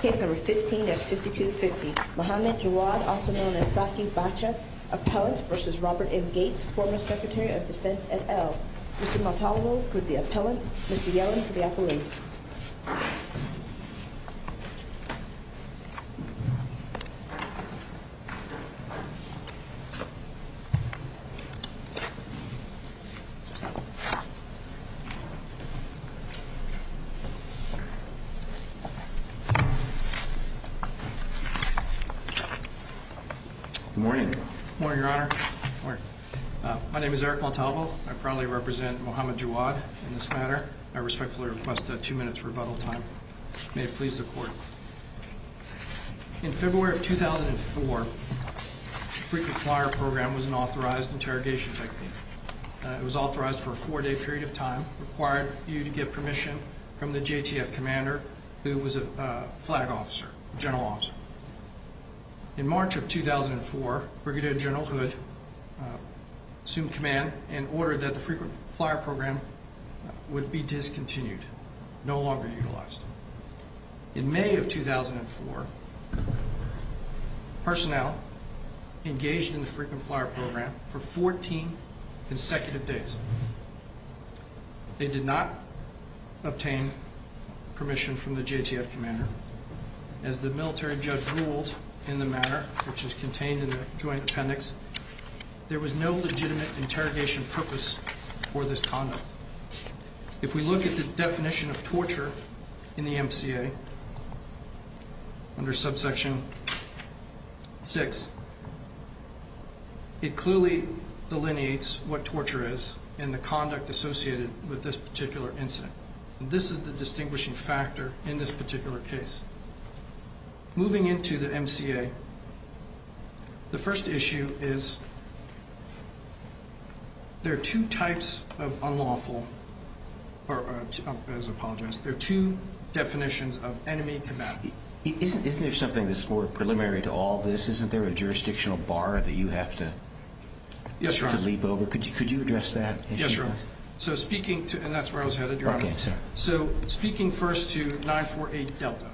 Case No. 15 of 5250, Muhammad Jawad, also known as Saki Bacha, Appellant v. Robert M. Gates, former Secretary of Defense at El. Mr. Montalvo for the Appellant, Mr. Yellen for the Appellant. Good morning. Good morning, Your Honor. My name is Eric Montalvo. I proudly represent Muhammad Jawad in this matter. I respectfully request two minutes rebuttal time. May it please the Court. In February of 2004, the Frequent Flyer Program was an authorized interrogation technique. It was authorized for a four-day period of time, required you to get permission from the JTF commander who was a flag officer, general officer. In March of 2004, Brigadier General Hood assumed command and ordered that the Frequent Flyer Program would be discontinued, no longer utilized. In May of 2004, personnel engaged in the Frequent Flyer Program for 14 consecutive days. They did not obtain permission from the JTF commander. As the military judge ruled in the matter, which is contained in the joint appendix, there was no legitimate interrogation purpose for this conduct. If we look at the definition of torture in the MCA under subsection 6, it clearly delineates what torture is and the conduct associated with this particular incident. This is the distinguishing factor in this particular case. Moving into the MCA, the first issue is there are two types of unlawful, or I apologize, there are two definitions of enemy combatant. Isn't there something that's more preliminary to all this? Isn't there a jurisdictional bar that you have to leap over? Yes, Your Honor. Could you address that issue? Yes, Your Honor. And that's where I was headed, Your Honor. Okay, sorry. So speaking first to 948 Delta.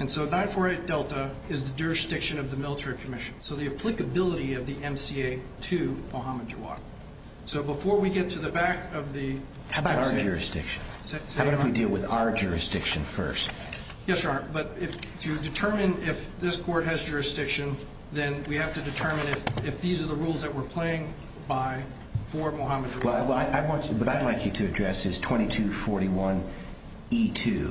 And so 948 Delta is the jurisdiction of the military commission. So the applicability of the MCA to Mohammed Jawad. So before we get to the back of the… How about our jurisdiction? How about if we deal with our jurisdiction first? Yes, Your Honor. But to determine if this court has jurisdiction, then we have to determine if these are the rules that we're playing by for Mohammed Jawad. What I'd like you to address is 2241E2,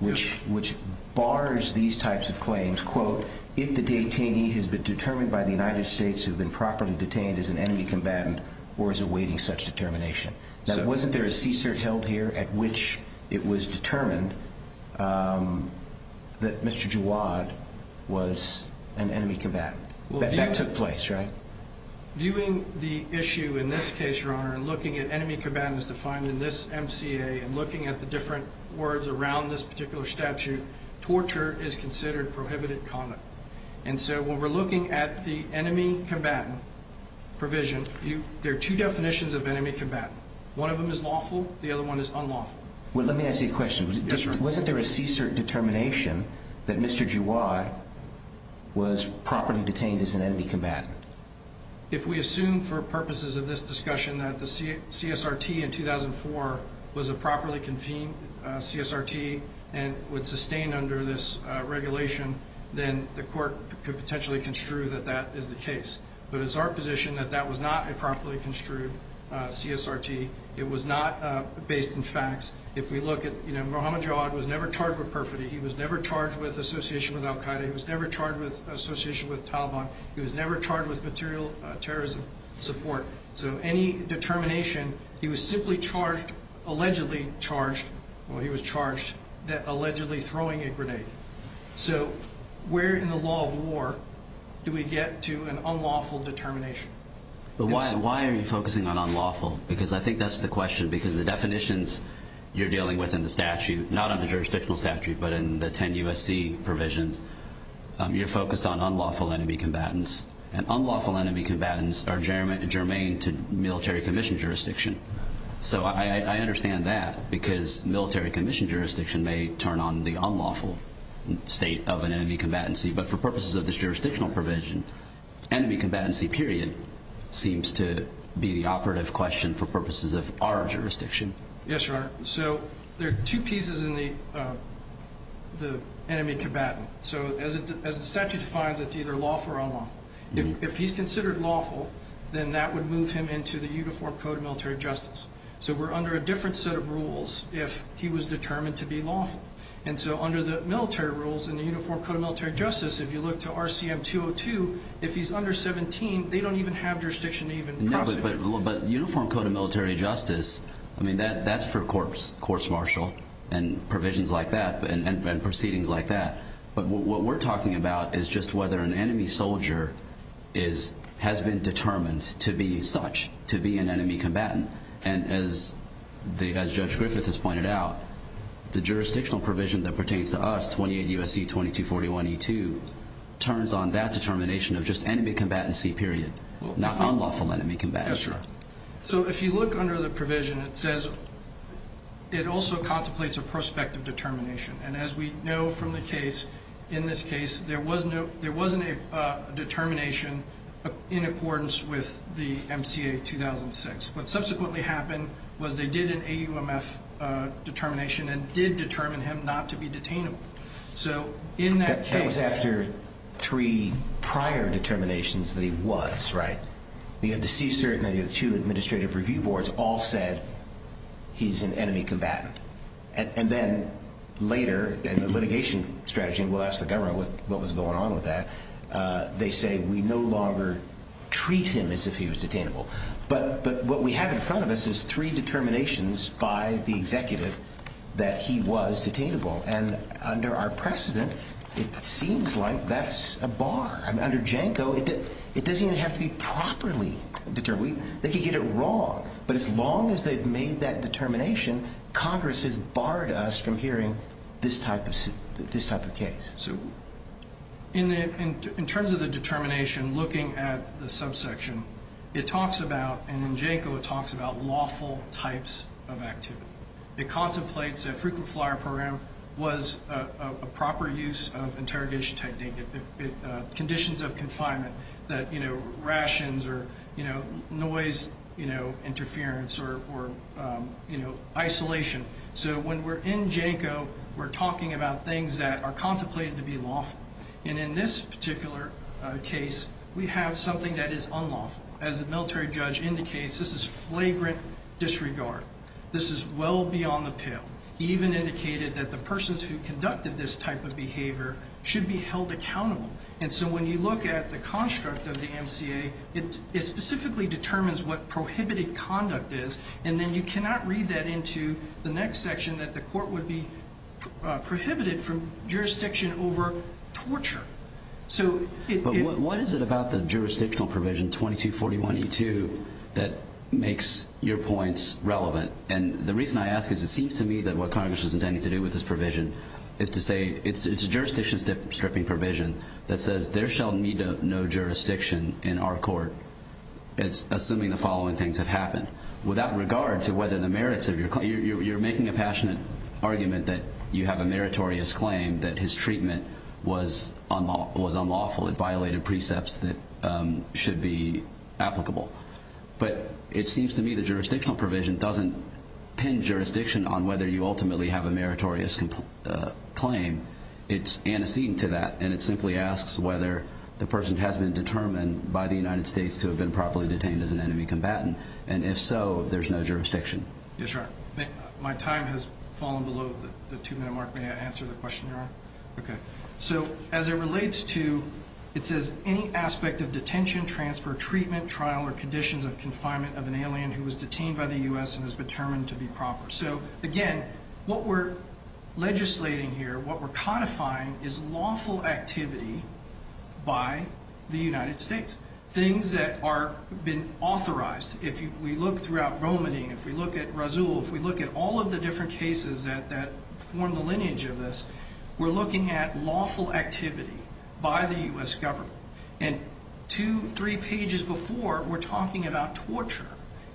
which bars these types of claims, quote, if the detainee has been determined by the United States to have been properly detained as an enemy combatant or is awaiting such determination. Now, wasn't there a CSERT held here at which it was determined that Mr. Jawad was an enemy combatant? That took place, right? Viewing the issue in this case, Your Honor, and looking at enemy combatants defined in this MCA and looking at the different words around this particular statute, torture is considered prohibited conduct. And so when we're looking at the enemy combatant provision, there are two definitions of enemy combatant. One of them is lawful. The other one is unlawful. Well, let me ask you a question. Yes, sir. Wasn't there a CSERT determination that Mr. Jawad was properly detained as an enemy combatant? If we assume for purposes of this discussion that the CSRT in 2004 was a properly convened CSRT and would sustain under this regulation, then the court could potentially construe that that is the case. But it's our position that that was not a properly construed CSRT. It was not based in facts. If we look at, you know, Muhammad Jawad was never charged with perfidy. He was never charged with association with al Qaeda. He was never charged with association with Taliban. He was never charged with material terrorism support. So any determination, he was simply charged, allegedly charged, well, he was charged allegedly throwing a grenade. So where in the law of war do we get to an unlawful determination? Why are you focusing on unlawful? Because I think that's the question because the definitions you're dealing with in the statute, not on the jurisdictional statute but in the 10 U.S.C. provisions, you're focused on unlawful enemy combatants. And unlawful enemy combatants are germane to military commission jurisdiction. So I understand that because military commission jurisdiction may turn on the unlawful state of an enemy combatancy. But for purposes of this jurisdictional provision, enemy combatancy period seems to be the operative question for purposes of our jurisdiction. Yes, Your Honor. So there are two pieces in the enemy combatant. So as the statute defines, it's either lawful or unlawful. If he's considered lawful, then that would move him into the Uniform Code of Military Justice. So we're under a different set of rules if he was determined to be lawful. And so under the military rules in the Uniform Code of Military Justice, if you look to RCM 202, if he's under 17, they don't even have jurisdiction to even prosecute him. But Uniform Code of Military Justice, I mean, that's for courts martial and provisions like that and proceedings like that. But what we're talking about is just whether an enemy soldier has been determined to be such, to be an enemy combatant. And as Judge Griffith has pointed out, the jurisdictional provision that pertains to us, 28 U.S.C. 2241E2, turns on that determination of just enemy combatancy period, not unlawful enemy combatancy. Yes, Your Honor. So if you look under the provision, it says it also contemplates a prospective determination. And as we know from the case, in this case, there wasn't a determination in accordance with the MCA 2006. What subsequently happened was they did an AUMF determination and did determine him not to be detainable. So in that case – That was after three prior determinations that he was, right? We had the CSIRT and the two administrative review boards all said he's an enemy combatant. And then later, in the litigation strategy, and we'll ask the government what was going on with that, they say we no longer treat him as if he was detainable. But what we have in front of us is three determinations by the executive that he was detainable. And under our precedent, it seems like that's a bar. Under JANCO, it doesn't even have to be properly determined. They could get it wrong. But as long as they've made that determination, Congress has barred us from hearing this type of case. So in terms of the determination, looking at the subsection, it talks about – and in JANCO it talks about lawful types of activity. It contemplates that frequent flyer program was a proper use of interrogation technique, conditions of confinement that, you know, rations or, you know, noise interference or, you know, isolation. So when we're in JANCO, we're talking about things that are contemplated to be lawful. And in this particular case, we have something that is unlawful. As the military judge indicates, this is flagrant disregard. This is well beyond the pale. He even indicated that the persons who conducted this type of behavior should be held accountable. And so when you look at the construct of the MCA, it specifically determines what prohibited conduct is, and then you cannot read that into the next section that the court would be prohibited from jurisdiction over torture. But what is it about the jurisdictional provision 2241E2 that makes your points relevant? And the reason I ask is it seems to me that what Congress is intending to do with this provision is to say it's a jurisdiction stripping provision that says there shall meet no jurisdiction in our court, assuming the following things have happened. Without regard to whether the merits of your claim, you're making a passionate argument that you have a meritorious claim, that his treatment was unlawful, it violated precepts that should be applicable. But it seems to me the jurisdictional provision doesn't pin jurisdiction on whether you ultimately have a meritorious claim. It's antecedent to that, and it simply asks whether the person has been determined by the United States to have been properly detained as an enemy combatant. And if so, there's no jurisdiction. Yes, sir. My time has fallen below the two-minute mark. May I answer the question, Your Honor? Okay. So as it relates to, it says, any aspect of detention, transfer, treatment, trial, or conditions of confinement of an alien who was detained by the U.S. and is determined to be proper. So, again, what we're legislating here, what we're codifying, is lawful activity by the United States, things that have been authorized. If we look throughout Romany, if we look at Rasul, if we look at all of the different cases that form the lineage of this, we're looking at lawful activity by the U.S. government. And two, three pages before, we're talking about torture,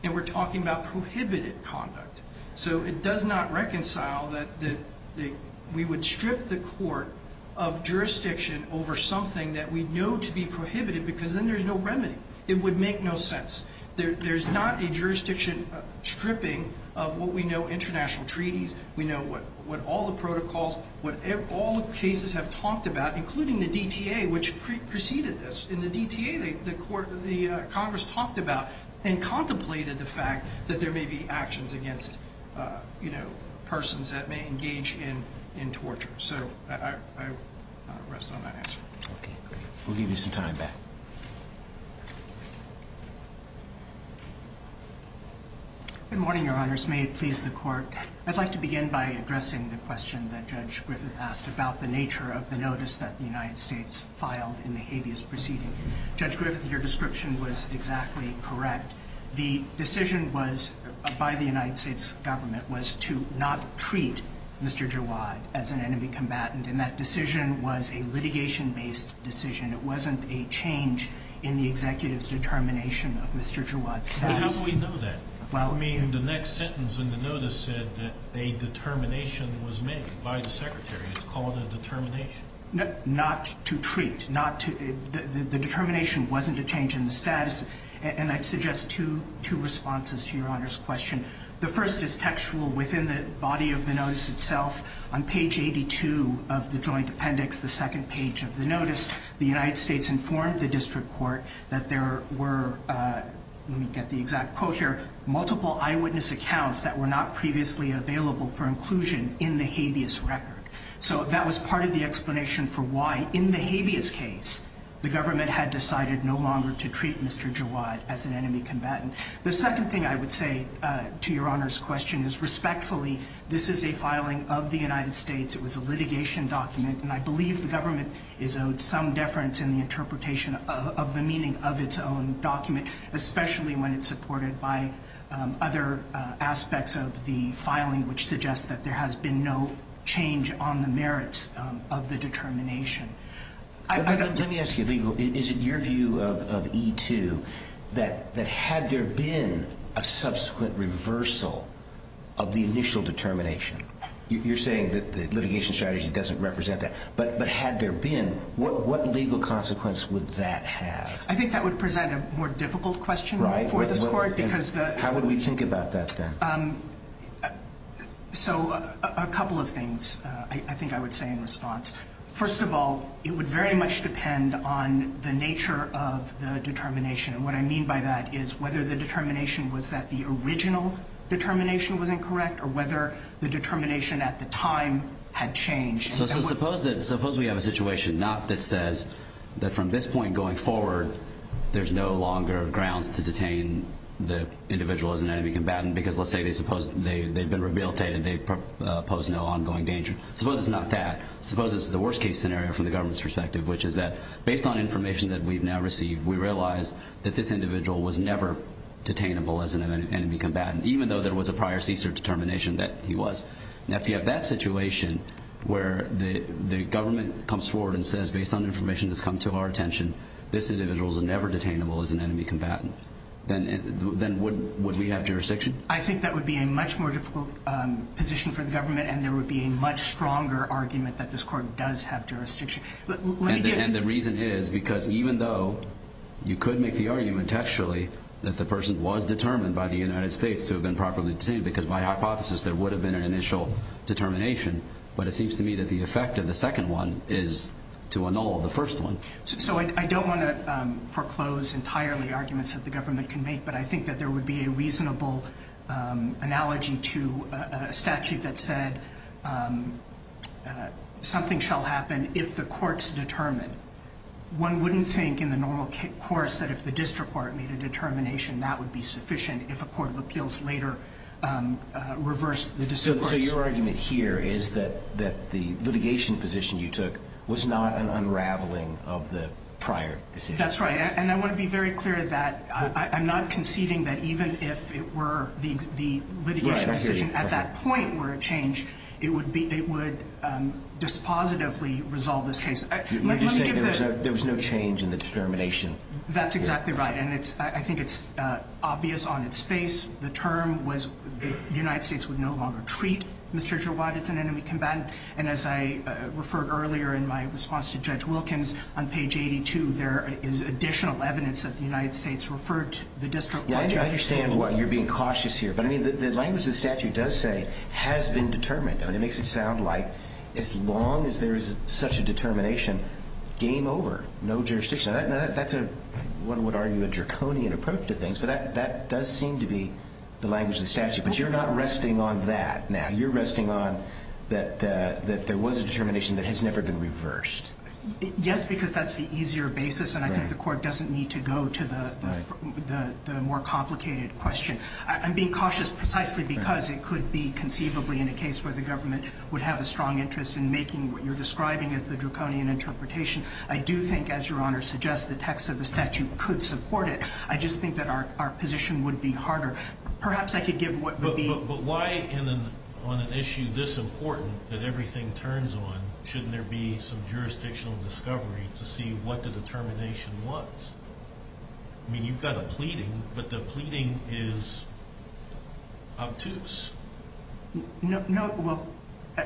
and we're talking about prohibited conduct. So it does not reconcile that we would strip the court of jurisdiction over something that we know to be prohibited because then there's no remedy. It would make no sense. There's not a jurisdiction stripping of what we know, international treaties. We know what all the protocols, what all the cases have talked about, including the DTA, which preceded this. In the DTA, the Congress talked about and contemplated the fact that there may be actions against, you know, persons that may engage in torture. So I'll rest on that answer. Okay, great. We'll give you some time back. Good morning, Your Honors. May it please the Court. I'd like to begin by addressing the question that Judge Griffin asked about the nature of the notice that the United States filed in the habeas proceeding. Judge Griffin, your description was exactly correct. The decision by the United States government was to not treat Mr. Jawad as an enemy combatant, and that decision was a litigation-based decision. It wasn't a change in the executive's determination of Mr. Jawad's status. But how do we know that? I mean, the next sentence in the notice said that a determination was made by the Secretary. It's called a determination. Not to treat. The determination wasn't a change in the status. And I'd suggest two responses to Your Honor's question. The first is textual within the body of the notice itself. On page 82 of the joint appendix, the second page of the notice, the United States informed the district court that there were, let me get the exact quote here, multiple eyewitness accounts that were not previously available for inclusion in the habeas record. So that was part of the explanation for why, in the habeas case, the government had decided no longer to treat Mr. Jawad as an enemy combatant. The second thing I would say to Your Honor's question is, respectfully, this is a filing of the United States. It was a litigation document. And I believe the government is owed some deference in the interpretation of the meaning of its own document, especially when it's supported by other aspects of the filing, which suggests that there has been no change on the merits of the determination. Let me ask you, legal, is it your view of E2 that had there been a subsequent reversal of the initial determination? You're saying that the litigation strategy doesn't represent that. But had there been, what legal consequence would that have? I think that would present a more difficult question for this court. How would we think about that, Dan? So a couple of things I think I would say in response. First of all, it would very much depend on the nature of the determination. And what I mean by that is whether the determination was that the original determination was incorrect or whether the determination at the time had changed. So suppose we have a situation, not that says that from this point going forward, there's no longer grounds to detain the individual as an enemy combatant because, let's say, they've been rehabilitated, they pose no ongoing danger. Suppose it's not that. Suppose it's the worst-case scenario from the government's perspective, which is that based on information that we've now received, we realize that this individual was never detainable as an enemy combatant, even though there was a prior CSER determination that he was. Now, if you have that situation where the government comes forward and says, based on information that's come to our attention, this individual is never detainable as an enemy combatant, then would we have jurisdiction? I think that would be a much more difficult position for the government, and there would be a much stronger argument that this court does have jurisdiction. And the reason is because even though you could make the argument, actually, that the person was determined by the United States to have been properly detained, because by hypothesis there would have been an initial determination, but it seems to me that the effect of the second one is to annul the first one. So I don't want to foreclose entirely arguments that the government can make, but I think that there would be a reasonable analogy to a statute that said, something shall happen if the courts determine. One wouldn't think in the normal course that if the district court made a determination, that would be sufficient if a court of appeals later reversed the district courts. So your argument here is that the litigation position you took was not an unraveling of the prior decision? That's right. And I want to be very clear that I'm not conceding that even if it were the litigation decision, at that point where it changed, it would dispositively resolve this case. You're just saying there was no change in the determination? That's exactly right. And I think it's obvious on its face. The term was the United States would no longer treat Mr. Jawad as an enemy combatant. And as I referred earlier in my response to Judge Wilkins on page 82, there is additional evidence that the United States referred to the district court judge. I understand why you're being cautious here, but the language the statute does say has been determined. It makes it sound like as long as there is such a determination, game over, no jurisdiction. That's what one would argue a draconian approach to things, but that does seem to be the language of the statute. But you're not resting on that now. You're resting on that there was a determination that has never been reversed. Yes, because that's the easier basis, and I think the court doesn't need to go to the more complicated question. I'm being cautious precisely because it could be conceivably in a case where the government would have a strong interest in making what you're describing as the draconian interpretation. I do think, as Your Honor suggests, the text of the statute could support it. I just think that our position would be harder. Perhaps I could give what would be— But why, on an issue this important that everything turns on, shouldn't there be some jurisdictional discovery to see what the determination was? I mean, you've got a pleading, but the pleading is obtuse. No, well,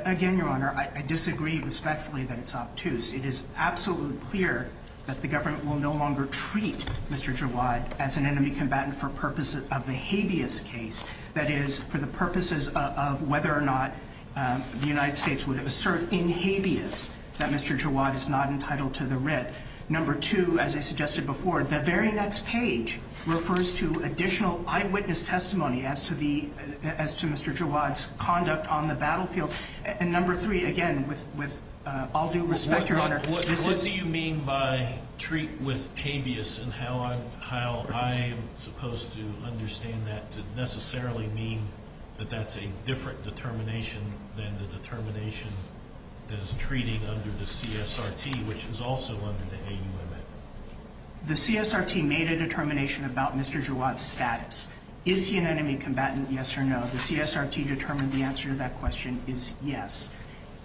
again, Your Honor, I disagree respectfully that it's obtuse. It is absolutely clear that the government will no longer treat Mr. Jawad as an enemy combatant for purposes of the habeas case, that is, for the purposes of whether or not the United States would assert in habeas that Mr. Jawad is not entitled to the writ. Number two, as I suggested before, the very next page refers to additional eyewitness testimony as to Mr. Jawad's conduct on the battlefield. And number three, again, with all due respect, Your Honor— What do you mean by treat with habeas and how I'm supposed to understand that to necessarily mean that that's a different determination than the determination that is treated under the CSRT, which is also under the AUMF? The CSRT made a determination about Mr. Jawad's status. Is he an enemy combatant? Yes or no? The CSRT determined the answer to that question is yes.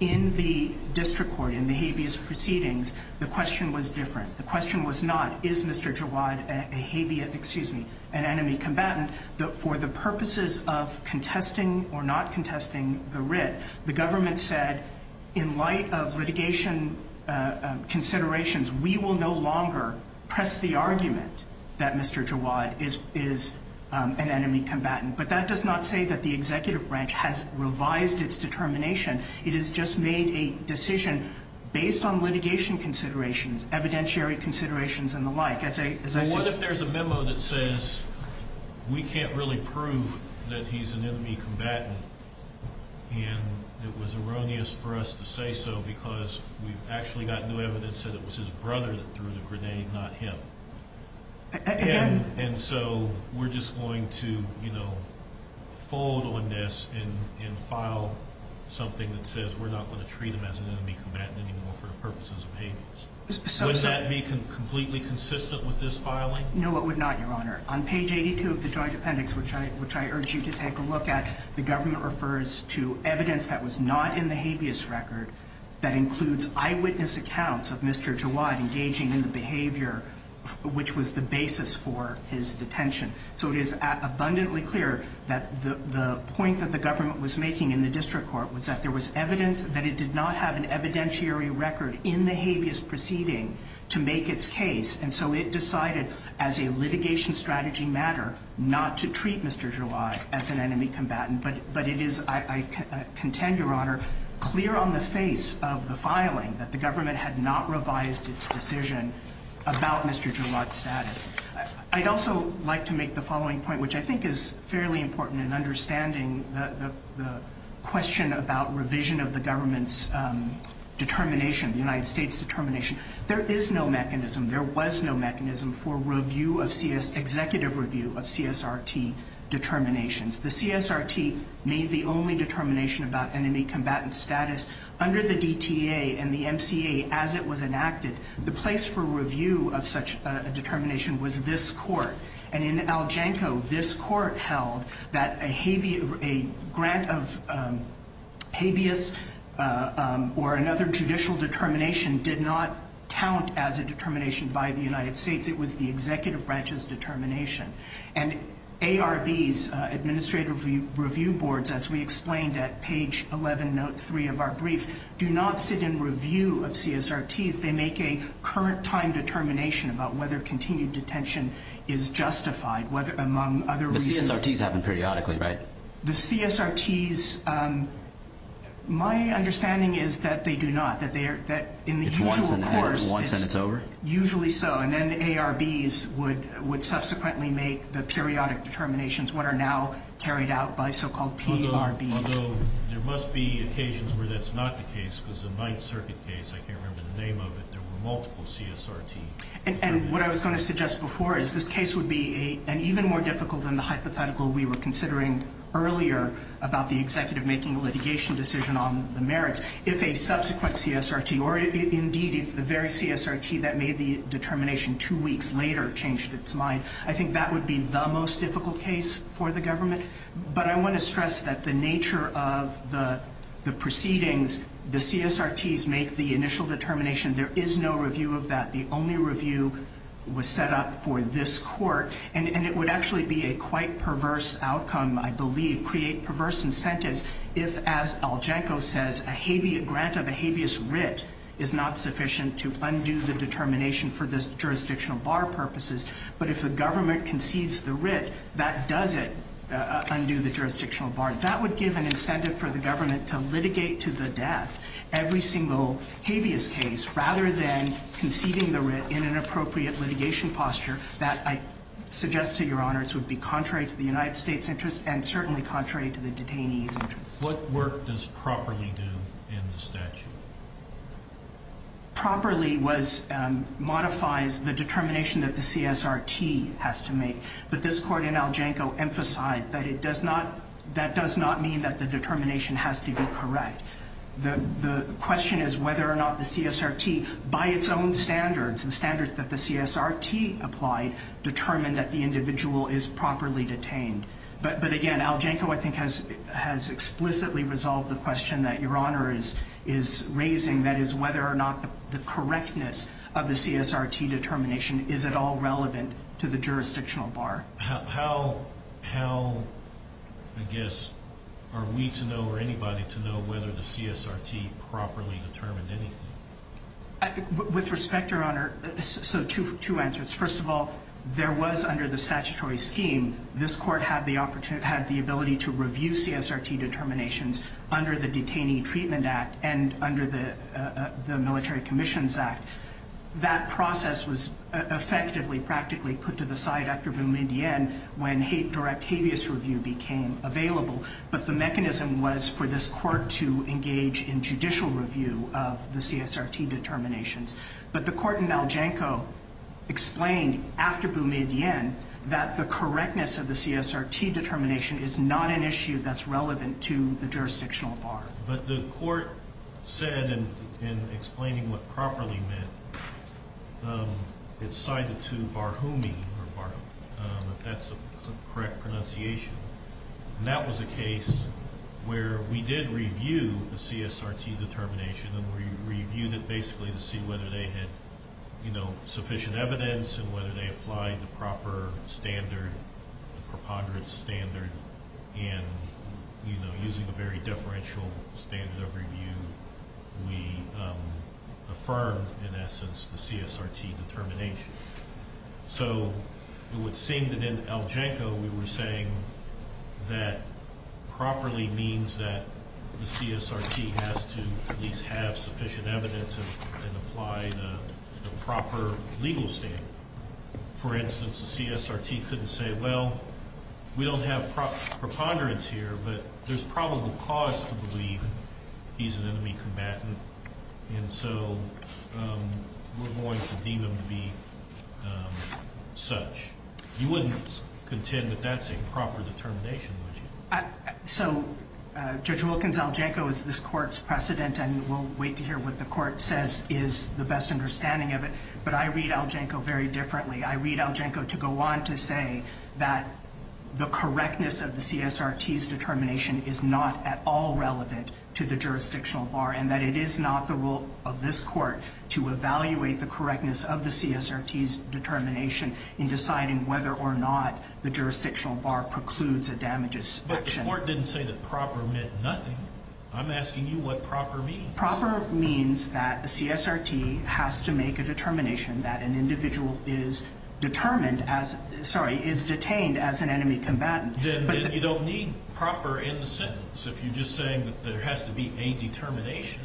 In the district court, in the habeas proceedings, the question was different. The question was not, is Mr. Jawad an enemy combatant? For the purposes of contesting or not contesting the writ, the government said, in light of litigation considerations, we will no longer press the argument that Mr. Jawad is an enemy combatant. But that does not say that the executive branch has revised its determination. It has just made a decision based on litigation considerations, evidentiary considerations, and the like. What if there's a memo that says we can't really prove that he's an enemy combatant and it was erroneous for us to say so because we've actually got new evidence that it was his brother that threw the grenade, not him? And so we're just going to, you know, fold on this and file something that says we're not going to treat him as an enemy combatant anymore for the purposes of habeas? Would that be completely consistent with this filing? No, it would not, Your Honor. On page 82 of the joint appendix, which I urge you to take a look at, the government refers to evidence that was not in the habeas record that includes eyewitness accounts of Mr. Jawad engaging in the behavior which was the basis for his detention. So it is abundantly clear that the point that the government was making in the district court was that there was evidence that it did not have an evidentiary record in the habeas proceeding to make its case, and so it decided, as a litigation strategy matter, not to treat Mr. Jawad as an enemy combatant. But it is, I contend, Your Honor, clear on the face of the filing that the government had not revised its decision about Mr. Jawad's status. I'd also like to make the following point, which I think is fairly important in understanding the question about revision of the government's determination, the United States' determination. There is no mechanism, there was no mechanism, for executive review of CSRT determinations. The CSRT made the only determination about enemy combatant status under the DTA and the MCA as it was enacted. The place for review of such a determination was this court. And in Aljanko, this court held that a grant of habeas or another judicial determination did not count as a determination by the United States. It was the executive branch's determination. And ARB's, Administrative Review Boards, as we explained at page 11, note 3 of our brief, do not sit in review of CSRT's. They make a current-time determination about whether continued detention is justified among other reasons. The CSRT's happen periodically, right? The CSRT's, my understanding is that they do not, that in the usual course it's usually so. And then ARB's would subsequently make the periodic determinations, what are now carried out by so-called PRB's. Although there must be occasions where that's not the case because the Ninth Circuit case, I can't remember the name of it, there were multiple CSRT's. And what I was going to suggest before is this case would be an even more difficult than the hypothetical we were considering earlier about the executive making a litigation decision on the merits. If a subsequent CSRT, or indeed if the very CSRT that made the determination two weeks later changed its mind, I think that would be the most difficult case for the government. But I want to stress that the nature of the proceedings, the CSRT's make the initial determination. There is no review of that. The only review was set up for this court. And it would actually be a quite perverse outcome, I believe, create perverse incentives if, as Algenco says, a grant of a habeas writ is not sufficient to undo the determination for the jurisdictional bar purposes. But if the government concedes the writ, that doesn't undo the jurisdictional bar. That would give an incentive for the government to litigate to the death every single habeas case rather than conceding the writ in an appropriate litigation posture that I suggest to your honors would be contrary to the United States interest and certainly contrary to the detainee's interest. What work does properly do in the statute? Properly modifies the determination that the CSRT has to make. But this court in Algenco emphasized that that does not mean that the determination has to be correct. The question is whether or not the CSRT, by its own standards, the standards that the CSRT applied, determined that the individual is properly detained. But again, Algenco, I think, has explicitly resolved the question that your honor is raising, that is, whether or not the correctness of the CSRT determination is at all relevant to the jurisdictional bar. How, I guess, are we to know or anybody to know whether the CSRT properly determined anything? With respect, your honor, so two answers. First of all, there was under the statutory scheme, this court had the ability to review CSRT determinations under the Detaining Treatment Act and under the Military Commissions Act. That process was effectively practically put to the side after Boumediene when direct habeas review became available. But the mechanism was for this court to engage in judicial review of the CSRT determinations. But the court in Algenco explained after Boumediene that the correctness of the CSRT determination is not an issue that's relevant to the jurisdictional bar. But the court said in explaining what properly meant, it cited to Barhoumi, if that's the correct pronunciation, and that was a case where we did review the CSRT determination and we reviewed it basically to see whether they had sufficient evidence and whether they applied the proper standard, the preponderance standard, and using a very deferential standard of review, we affirmed in essence the CSRT determination. So it would seem that in Algenco we were saying that properly means that the CSRT has to at least have sufficient evidence and apply the proper legal standard. For instance, the CSRT couldn't say, well, we don't have proper preponderance here, but there's probable cause to believe he's an enemy combatant, and so we're going to deem him to be such. You wouldn't contend that that's a proper determination, would you? So Judge Wilkins, Algenco is this court's precedent, and we'll wait to hear what the court says is the best understanding of it. But I read Algenco very differently. I read Algenco to go on to say that the correctness of the CSRT's determination is not at all relevant to the jurisdictional bar and that it is not the role of this court to evaluate the correctness of the CSRT's determination in deciding whether or not the jurisdictional bar precludes a damages action. But the court didn't say that proper meant nothing. I'm asking you what proper means. Proper means that the CSRT has to make a determination that an individual is determined as sorry, is detained as an enemy combatant. Then you don't need proper in the sentence if you're just saying that there has to be a determination.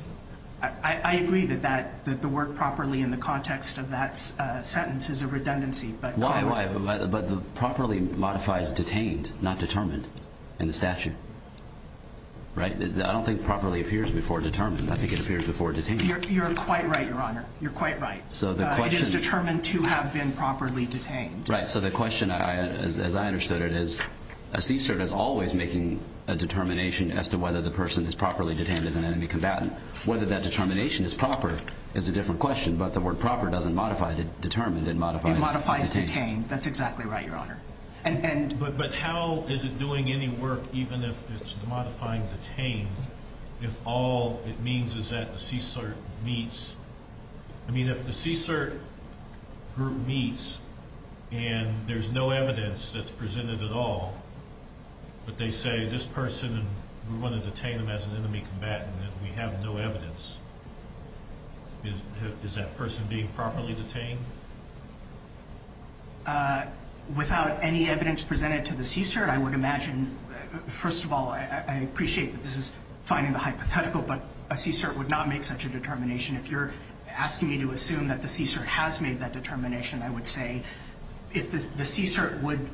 I agree that the word properly in the context of that sentence is a redundancy. Why? But the properly modifies detained, not determined in the statute, right? I don't think properly appears before determined. I think it appears before detained. You're quite right, Your Honor. You're quite right. It is determined to have been properly detained. So the question, as I understood it, is a CSRT is always making a determination as to whether the person is properly detained as an enemy combatant. Whether that determination is proper is a different question, but the word proper doesn't modify determined. It modifies detained. It modifies detained. That's exactly right, Your Honor. But how is it doing any work, even if it's modifying detained, if all it means is that the CSRT meets? I mean, if the CSRT group meets and there's no evidence that's presented at all, but they say this person, and we want to detain them as an enemy combatant, and we have no evidence, is that person being properly detained? Without any evidence presented to the CSRT, I would imagine, first of all, I appreciate that this is finding the hypothetical, but a CSRT would not make such a determination. If you're asking me to assume that the CSRT has made that determination, I would say if the CSRT would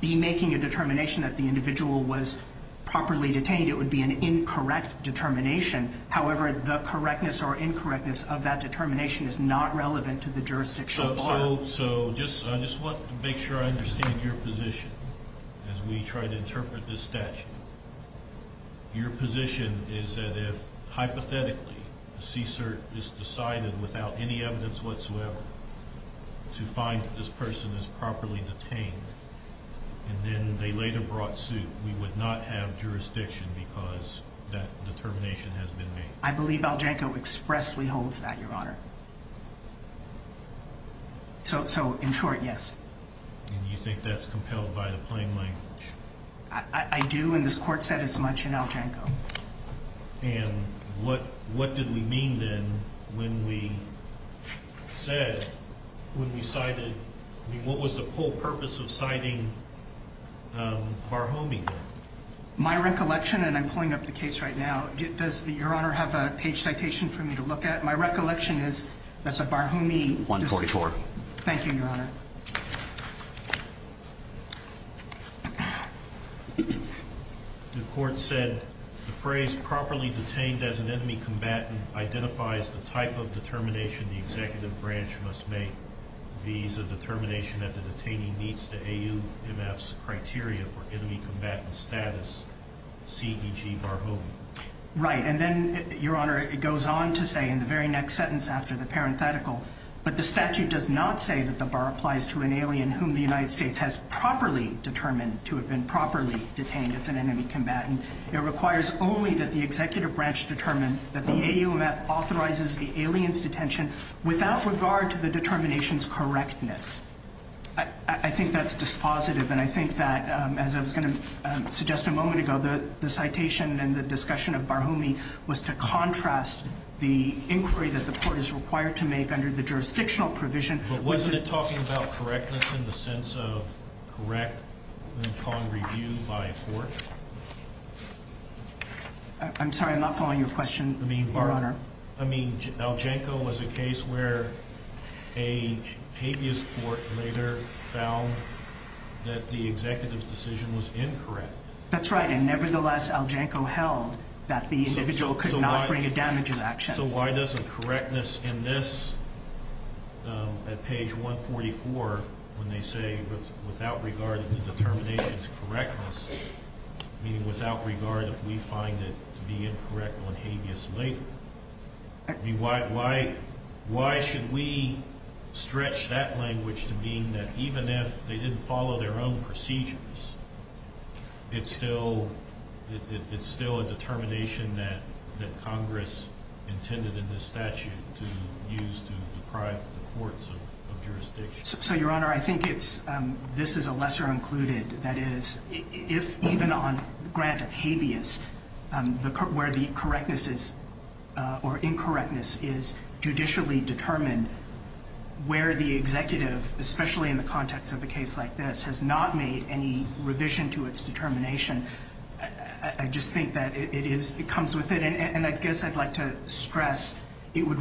be making a determination that the individual was properly detained, it would be an incorrect determination. However, the correctness or incorrectness of that determination is not relevant to the jurisdiction so far. So I just want to make sure I understand your position as we try to interpret this statute. Your position is that if, hypothetically, the CSRT is decided without any evidence whatsoever to find that this person is properly detained, and then they later brought suit, we would not have jurisdiction because that determination has been made. I believe Aljanko expressly holds that, Your Honor. So, in short, yes. And you think that's compelled by the plain language? I do, and this Court said as much in Aljanko. And what did we mean then when we said, when we cited, I mean, what was the whole purpose of citing Barhomey then? My recollection, and I'm pulling up the case right now, does Your Honor have a page citation for me to look at? My recollection is that the Barhomey... 144. Thank you, Your Honor. The Court said, the phrase properly detained as an enemy combatant identifies the type of determination the executive branch must make. V is a determination that the detainee meets the AUMF's criteria for enemy combatant status, C, E, G, Barhomey. Right, and then, Your Honor, it goes on to say in the very next sentence after the parenthetical, but the statute does not say that the bar applies to an alien whom the United States has properly determined to have been properly detained as an enemy combatant. It requires only that the executive branch determine that the AUMF authorizes the alien's detention without regard to the determination's correctness. I think that's dispositive, and I think that, as I was going to suggest a moment ago, the citation and the discussion of Barhomey was to contrast the inquiry that the Court is required to make under the jurisdictional provision. But wasn't it talking about correctness in the sense of correct, then called review by a court? I'm sorry, I'm not following your question, Your Honor. I mean, Algenco was a case where a habeas court later found that the executive's decision was incorrect. That's right, and nevertheless, Algenco held that the individual could not bring a damages action. So why doesn't correctness in this, at page 144, when they say without regard to the determination's correctness, meaning without regard if we find it to be incorrect on habeas later, why should we stretch that language to mean that even if they didn't follow their own procedures, it's still a determination that Congress intended in this statute to use to deprive the courts of jurisdiction? So, Your Honor, I think this is a lesser included. That is, if even on grant of habeas, where the correctness or incorrectness is judicially determined, where the executive, especially in the context of a case like this, has not made any revision to its determination, I just think that it comes with it. And I guess I'd like to stress it would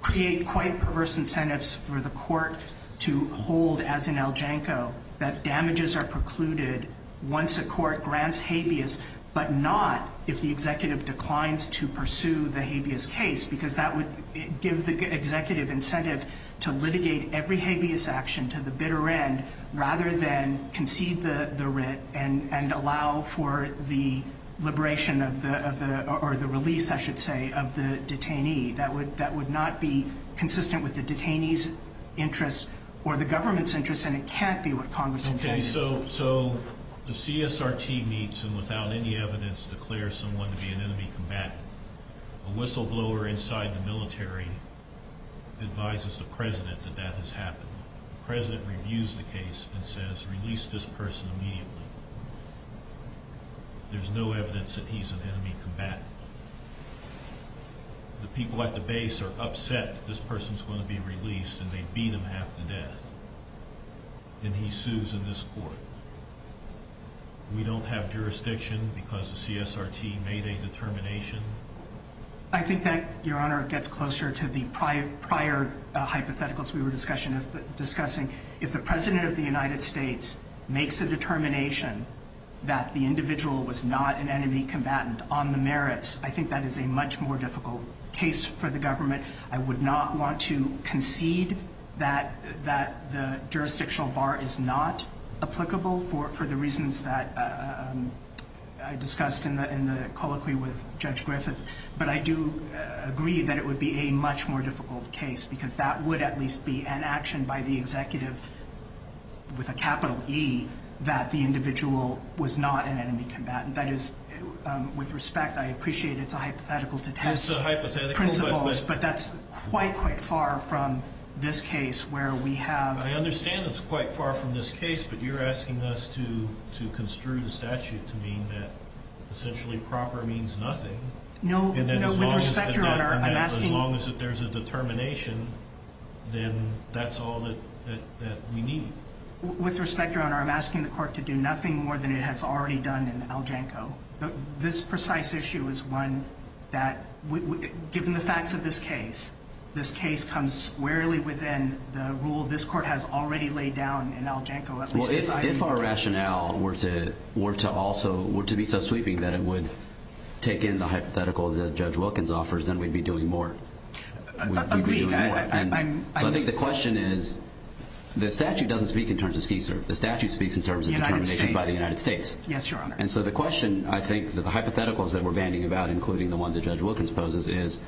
create quite perverse incentives for the Court to hold, as in Algenco, that damages are precluded once a court grants habeas, but not if the executive declines to pursue the habeas case, because that would give the executive incentive to litigate every habeas action to the bitter end rather than concede the writ and allow for the liberation of the, or the release, I should say, of the detainee. That would not be consistent with the detainee's interests or the government's interests, and it can't be what Congress intended. Okay, so the CSRT meets and, without any evidence, declares someone to be an enemy combatant. A whistleblower inside the military advises the President that that has happened. The President reviews the case and says, Release this person immediately. There's no evidence that he's an enemy combatant. The people at the base are upset that this person's going to be released, and they beat him half to death, and he sues in this court. We don't have jurisdiction because the CSRT made a determination. I think that, Your Honor, gets closer to the prior hypotheticals we were discussing. If the President of the United States makes a determination that the individual was not an enemy combatant on the merits, I think that is a much more difficult case for the government. I would not want to concede that the jurisdictional bar is not applicable for the reasons that I discussed in the colloquy with Judge Griffith, but I do agree that it would be a much more difficult case because that would at least be an action by the executive with a capital E that the individual was not an enemy combatant. That is, with respect, I appreciate it's a hypothetical to test principles, but that's quite, quite far from this case where we have... I understand it's quite far from this case, but you're asking us to construe the statute to mean that essentially proper means nothing. No, with respect, Your Honor, I'm asking... As long as there's a determination, then that's all that we need. With respect, Your Honor, I'm asking the court to do nothing more than it has already done in Aljanko. This precise issue is one that, given the facts of this case, this case comes squarely within the rule this court has already laid down in Aljanko. Well, if our rationale were to also be so sweeping that it would take in the hypothetical that Judge Wilkins offers, then we'd be doing more. Agreed. So I think the question is the statute doesn't speak in terms of CSER. The statute speaks in terms of determinations by the United States. Yes, Your Honor. And so the question, I think, that the hypotheticals that we're bandying about, including the one that Judge Wilkins poses, is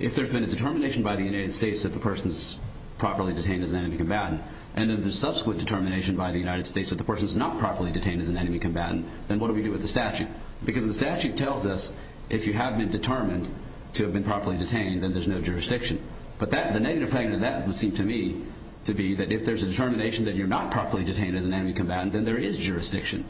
if there's been a determination by the United States that the person's properly detained as an enemy combatant and then the subsequent determination by the United States that the person's not properly detained as an enemy combatant, then what do we do with the statute? Because the statute tells us if you have been determined to have been properly detained, then there's no jurisdiction. But the negative thing to that would seem to me to be that if there's a determination that you're not properly detained as an enemy combatant, then there is jurisdiction.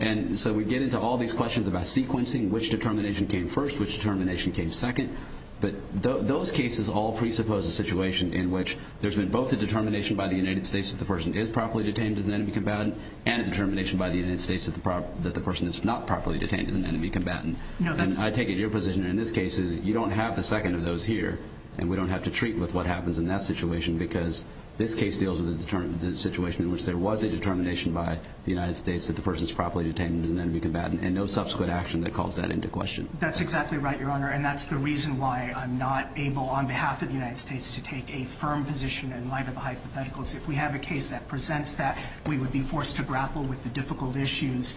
And so we get into all these questions about sequencing, which determination came first, which determination came second, but those cases all presuppose a situation in which there's been both a determination by the United States that the person is properly detained as an enemy combatant and a determination by the United States that the person is not properly detained as an enemy combatant. And I take it your position in this case is you don't have the second of those here, and we don't have to treat with what happens in that situation because this case deals with the situation in which there was a determination by the United States that the person is properly detained as an enemy combatant and no subsequent action that calls that into question. That's exactly right, Your Honor, and that's the reason why I'm not able, on behalf of the United States, to take a firm position in light of the hypotheticals. If we have a case that presents that, we would be forced to grapple with the difficult issues.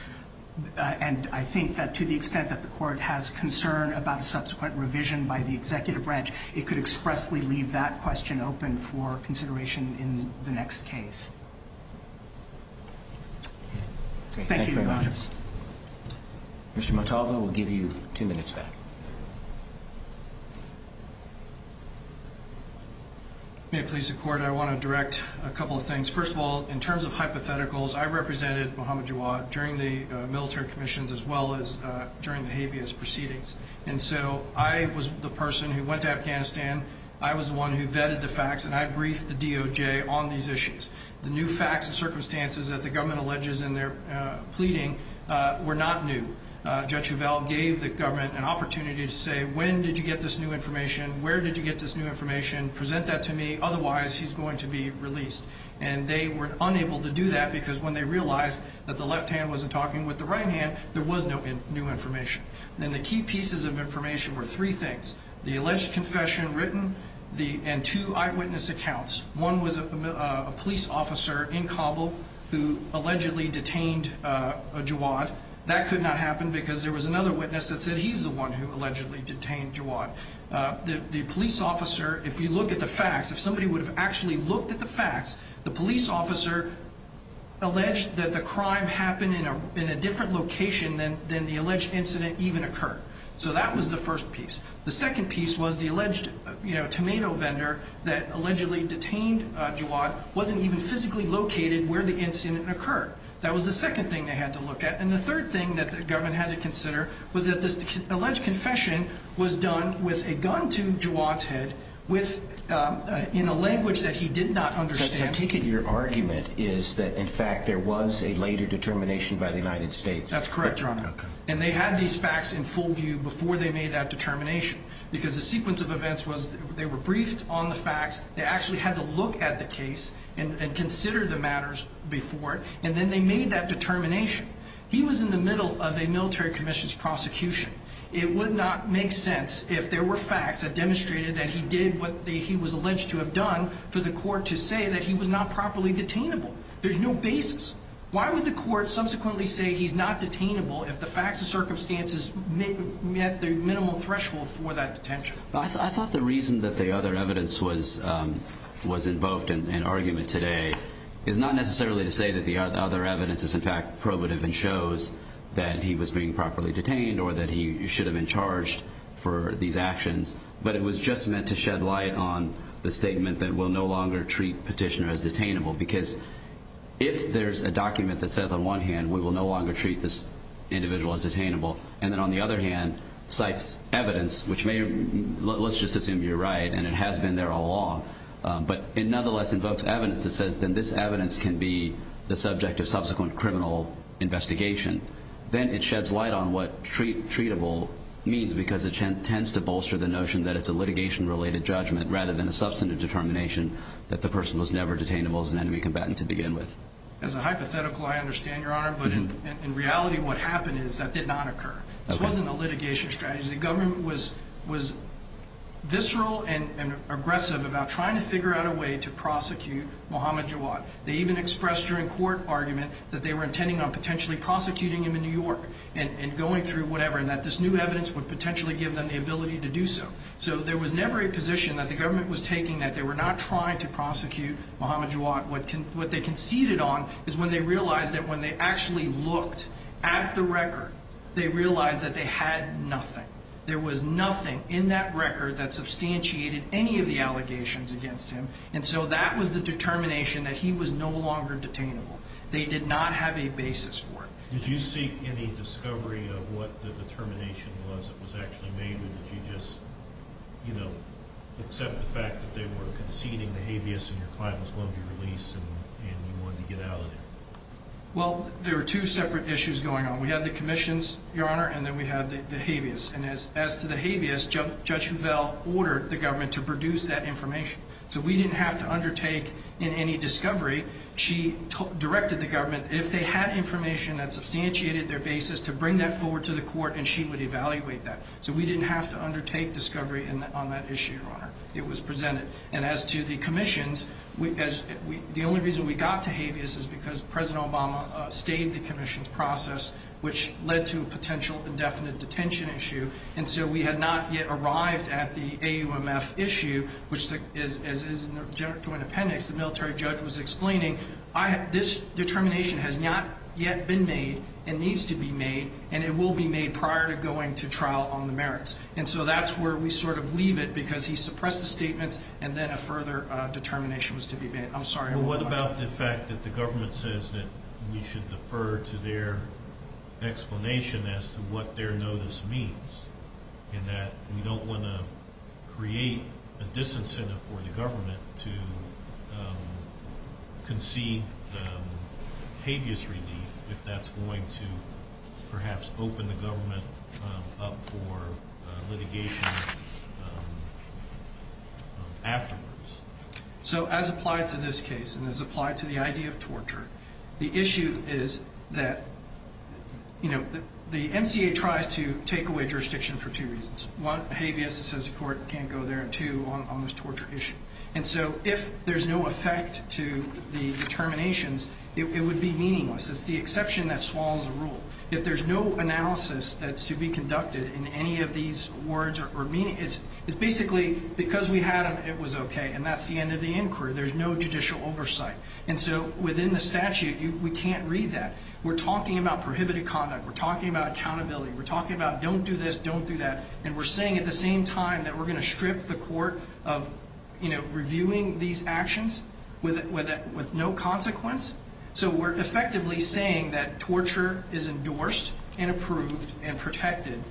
And I think that to the extent that the court has concern about a subsequent revision by the executive branch, it could expressly leave that question open for consideration in the next case. Thank you very much. Mr. Montalvo, we'll give you two minutes back. May it please the Court, I want to direct a couple of things. First of all, in terms of hypotheticals, I represented Mohammed Jawad during the military commissions as well as during the habeas proceedings. And so I was the person who went to Afghanistan, I was the one who vetted the facts, and I briefed the DOJ on these issues. The new facts and circumstances that the government alleges in their pleading were not new. Judge Huvel gave the government an opportunity to say, when did you get this new information, where did you get this new information, present that to me, otherwise he's going to be released. And they were unable to do that because when they realized that the left hand wasn't talking with the right hand, there was no new information. And the key pieces of information were three things, the alleged confession written and two eyewitness accounts. One was a police officer in Kabul who allegedly detained Jawad. That could not happen because there was another witness that said he's the one who allegedly detained Jawad. The police officer, if you look at the facts, if somebody would have actually looked at the facts, the police officer alleged that the crime happened in a different location than the alleged incident even occurred. So that was the first piece. The second piece was the alleged tomato vendor that allegedly detained Jawad wasn't even physically located where the incident occurred. That was the second thing they had to look at. And the third thing that the government had to consider was that this alleged confession was done with a gun to Jawad's head in a language that he did not understand. So taking your argument is that, in fact, there was a later determination by the United States. That's correct, Your Honor. And they had these facts in full view before they made that determination because the sequence of events was they were briefed on the facts, they actually had to look at the case and consider the matters before it, and then they made that determination. He was in the middle of a military commission's prosecution. It would not make sense if there were facts that demonstrated that he did what he was alleged to have done for the court to say that he was not properly detainable. There's no basis. Why would the court subsequently say he's not detainable if the facts and circumstances met the minimal threshold for that detention? I thought the reason that the other evidence was invoked in argument today is not necessarily to say that the other evidence is, in fact, probative and shows that he was being properly detained or that he should have been charged for these actions, but it was just meant to shed light on the statement that we'll no longer treat petitioner as detainable because if there's a document that says on one hand we will no longer treat this individual as detainable and then on the other hand cites evidence which may, let's just assume you're right, and it has been there all along, but it nonetheless invokes evidence that says then this evidence can be the subject of subsequent criminal investigation. Then it sheds light on what treatable means because it tends to bolster the notion that it's a litigation-related judgment rather than a substantive determination that the person was never detainable as an enemy combatant to begin with. As a hypothetical, I understand, Your Honor, but in reality what happened is that did not occur. This wasn't a litigation strategy. The government was visceral and aggressive about trying to figure out a way to prosecute Muhammad Jawad. They even expressed during court argument that they were intending on potentially prosecuting him in New York and going through whatever and that this new evidence would potentially give them the ability to do so. So there was never a position that the government was taking that they were not trying to prosecute Muhammad Jawad. What they conceded on is when they realized that when they actually looked at the record, they realized that they had nothing. There was nothing in that record that substantiated any of the allegations against him, and so that was the determination that he was no longer detainable. They did not have a basis for it. Did you seek any discovery of what the determination was that was actually made, or did you just, you know, accept the fact that they were conceding the habeas and your client was going to be released and you wanted to get out of there? Well, there were two separate issues going on. We had the commissions, Your Honor, and then we had the habeas. And as to the habeas, Judge Hovell ordered the government to produce that information. So we didn't have to undertake in any discovery. She directed the government, if they had information that substantiated their basis, to bring that forward to the court and she would evaluate that. So we didn't have to undertake discovery on that issue, Your Honor. It was presented. And as to the commissions, the only reason we got to habeas is because President Obama stayed the commissions process, which led to a potential indefinite detention issue. And so we had not yet arrived at the AUMF issue, which is a joint appendix. The military judge was explaining this determination has not yet been made and needs to be made, and it will be made prior to going to trial on the merits. And so that's where we sort of leave it because he suppressed the statements and then a further determination was to be made. Well, what about the fact that the government says that we should defer to their explanation as to what their notice means and that we don't want to create a disincentive for the government to concede the habeas relief if that's going to perhaps open the government up for litigation afterwards? So as applied to this case and as applied to the idea of torture, the issue is that, you know, the MCA tries to take away jurisdiction for two reasons. One, habeas, it says the court can't go there, and two, on this torture issue. And so if there's no effect to the determinations, it would be meaningless. It's the exception that swallows the rule. If there's no analysis that's to be conducted in any of these words or meaning, it's basically because we had them, it was okay, and that's the end of the inquiry. There's no judicial oversight. And so within the statute, we can't read that. We're talking about prohibited conduct. We're talking about accountability. We're talking about don't do this, don't do that. And we're saying at the same time that we're going to strip the court of, you know, reviewing these actions with no consequence. So we're effectively saying that torture is endorsed and approved and protected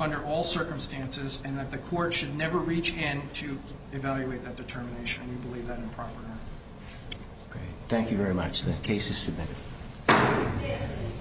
under all circumstances and that the court should never reach in to evaluate that determination. We believe that improper. Okay. Thank you very much. The case is submitted.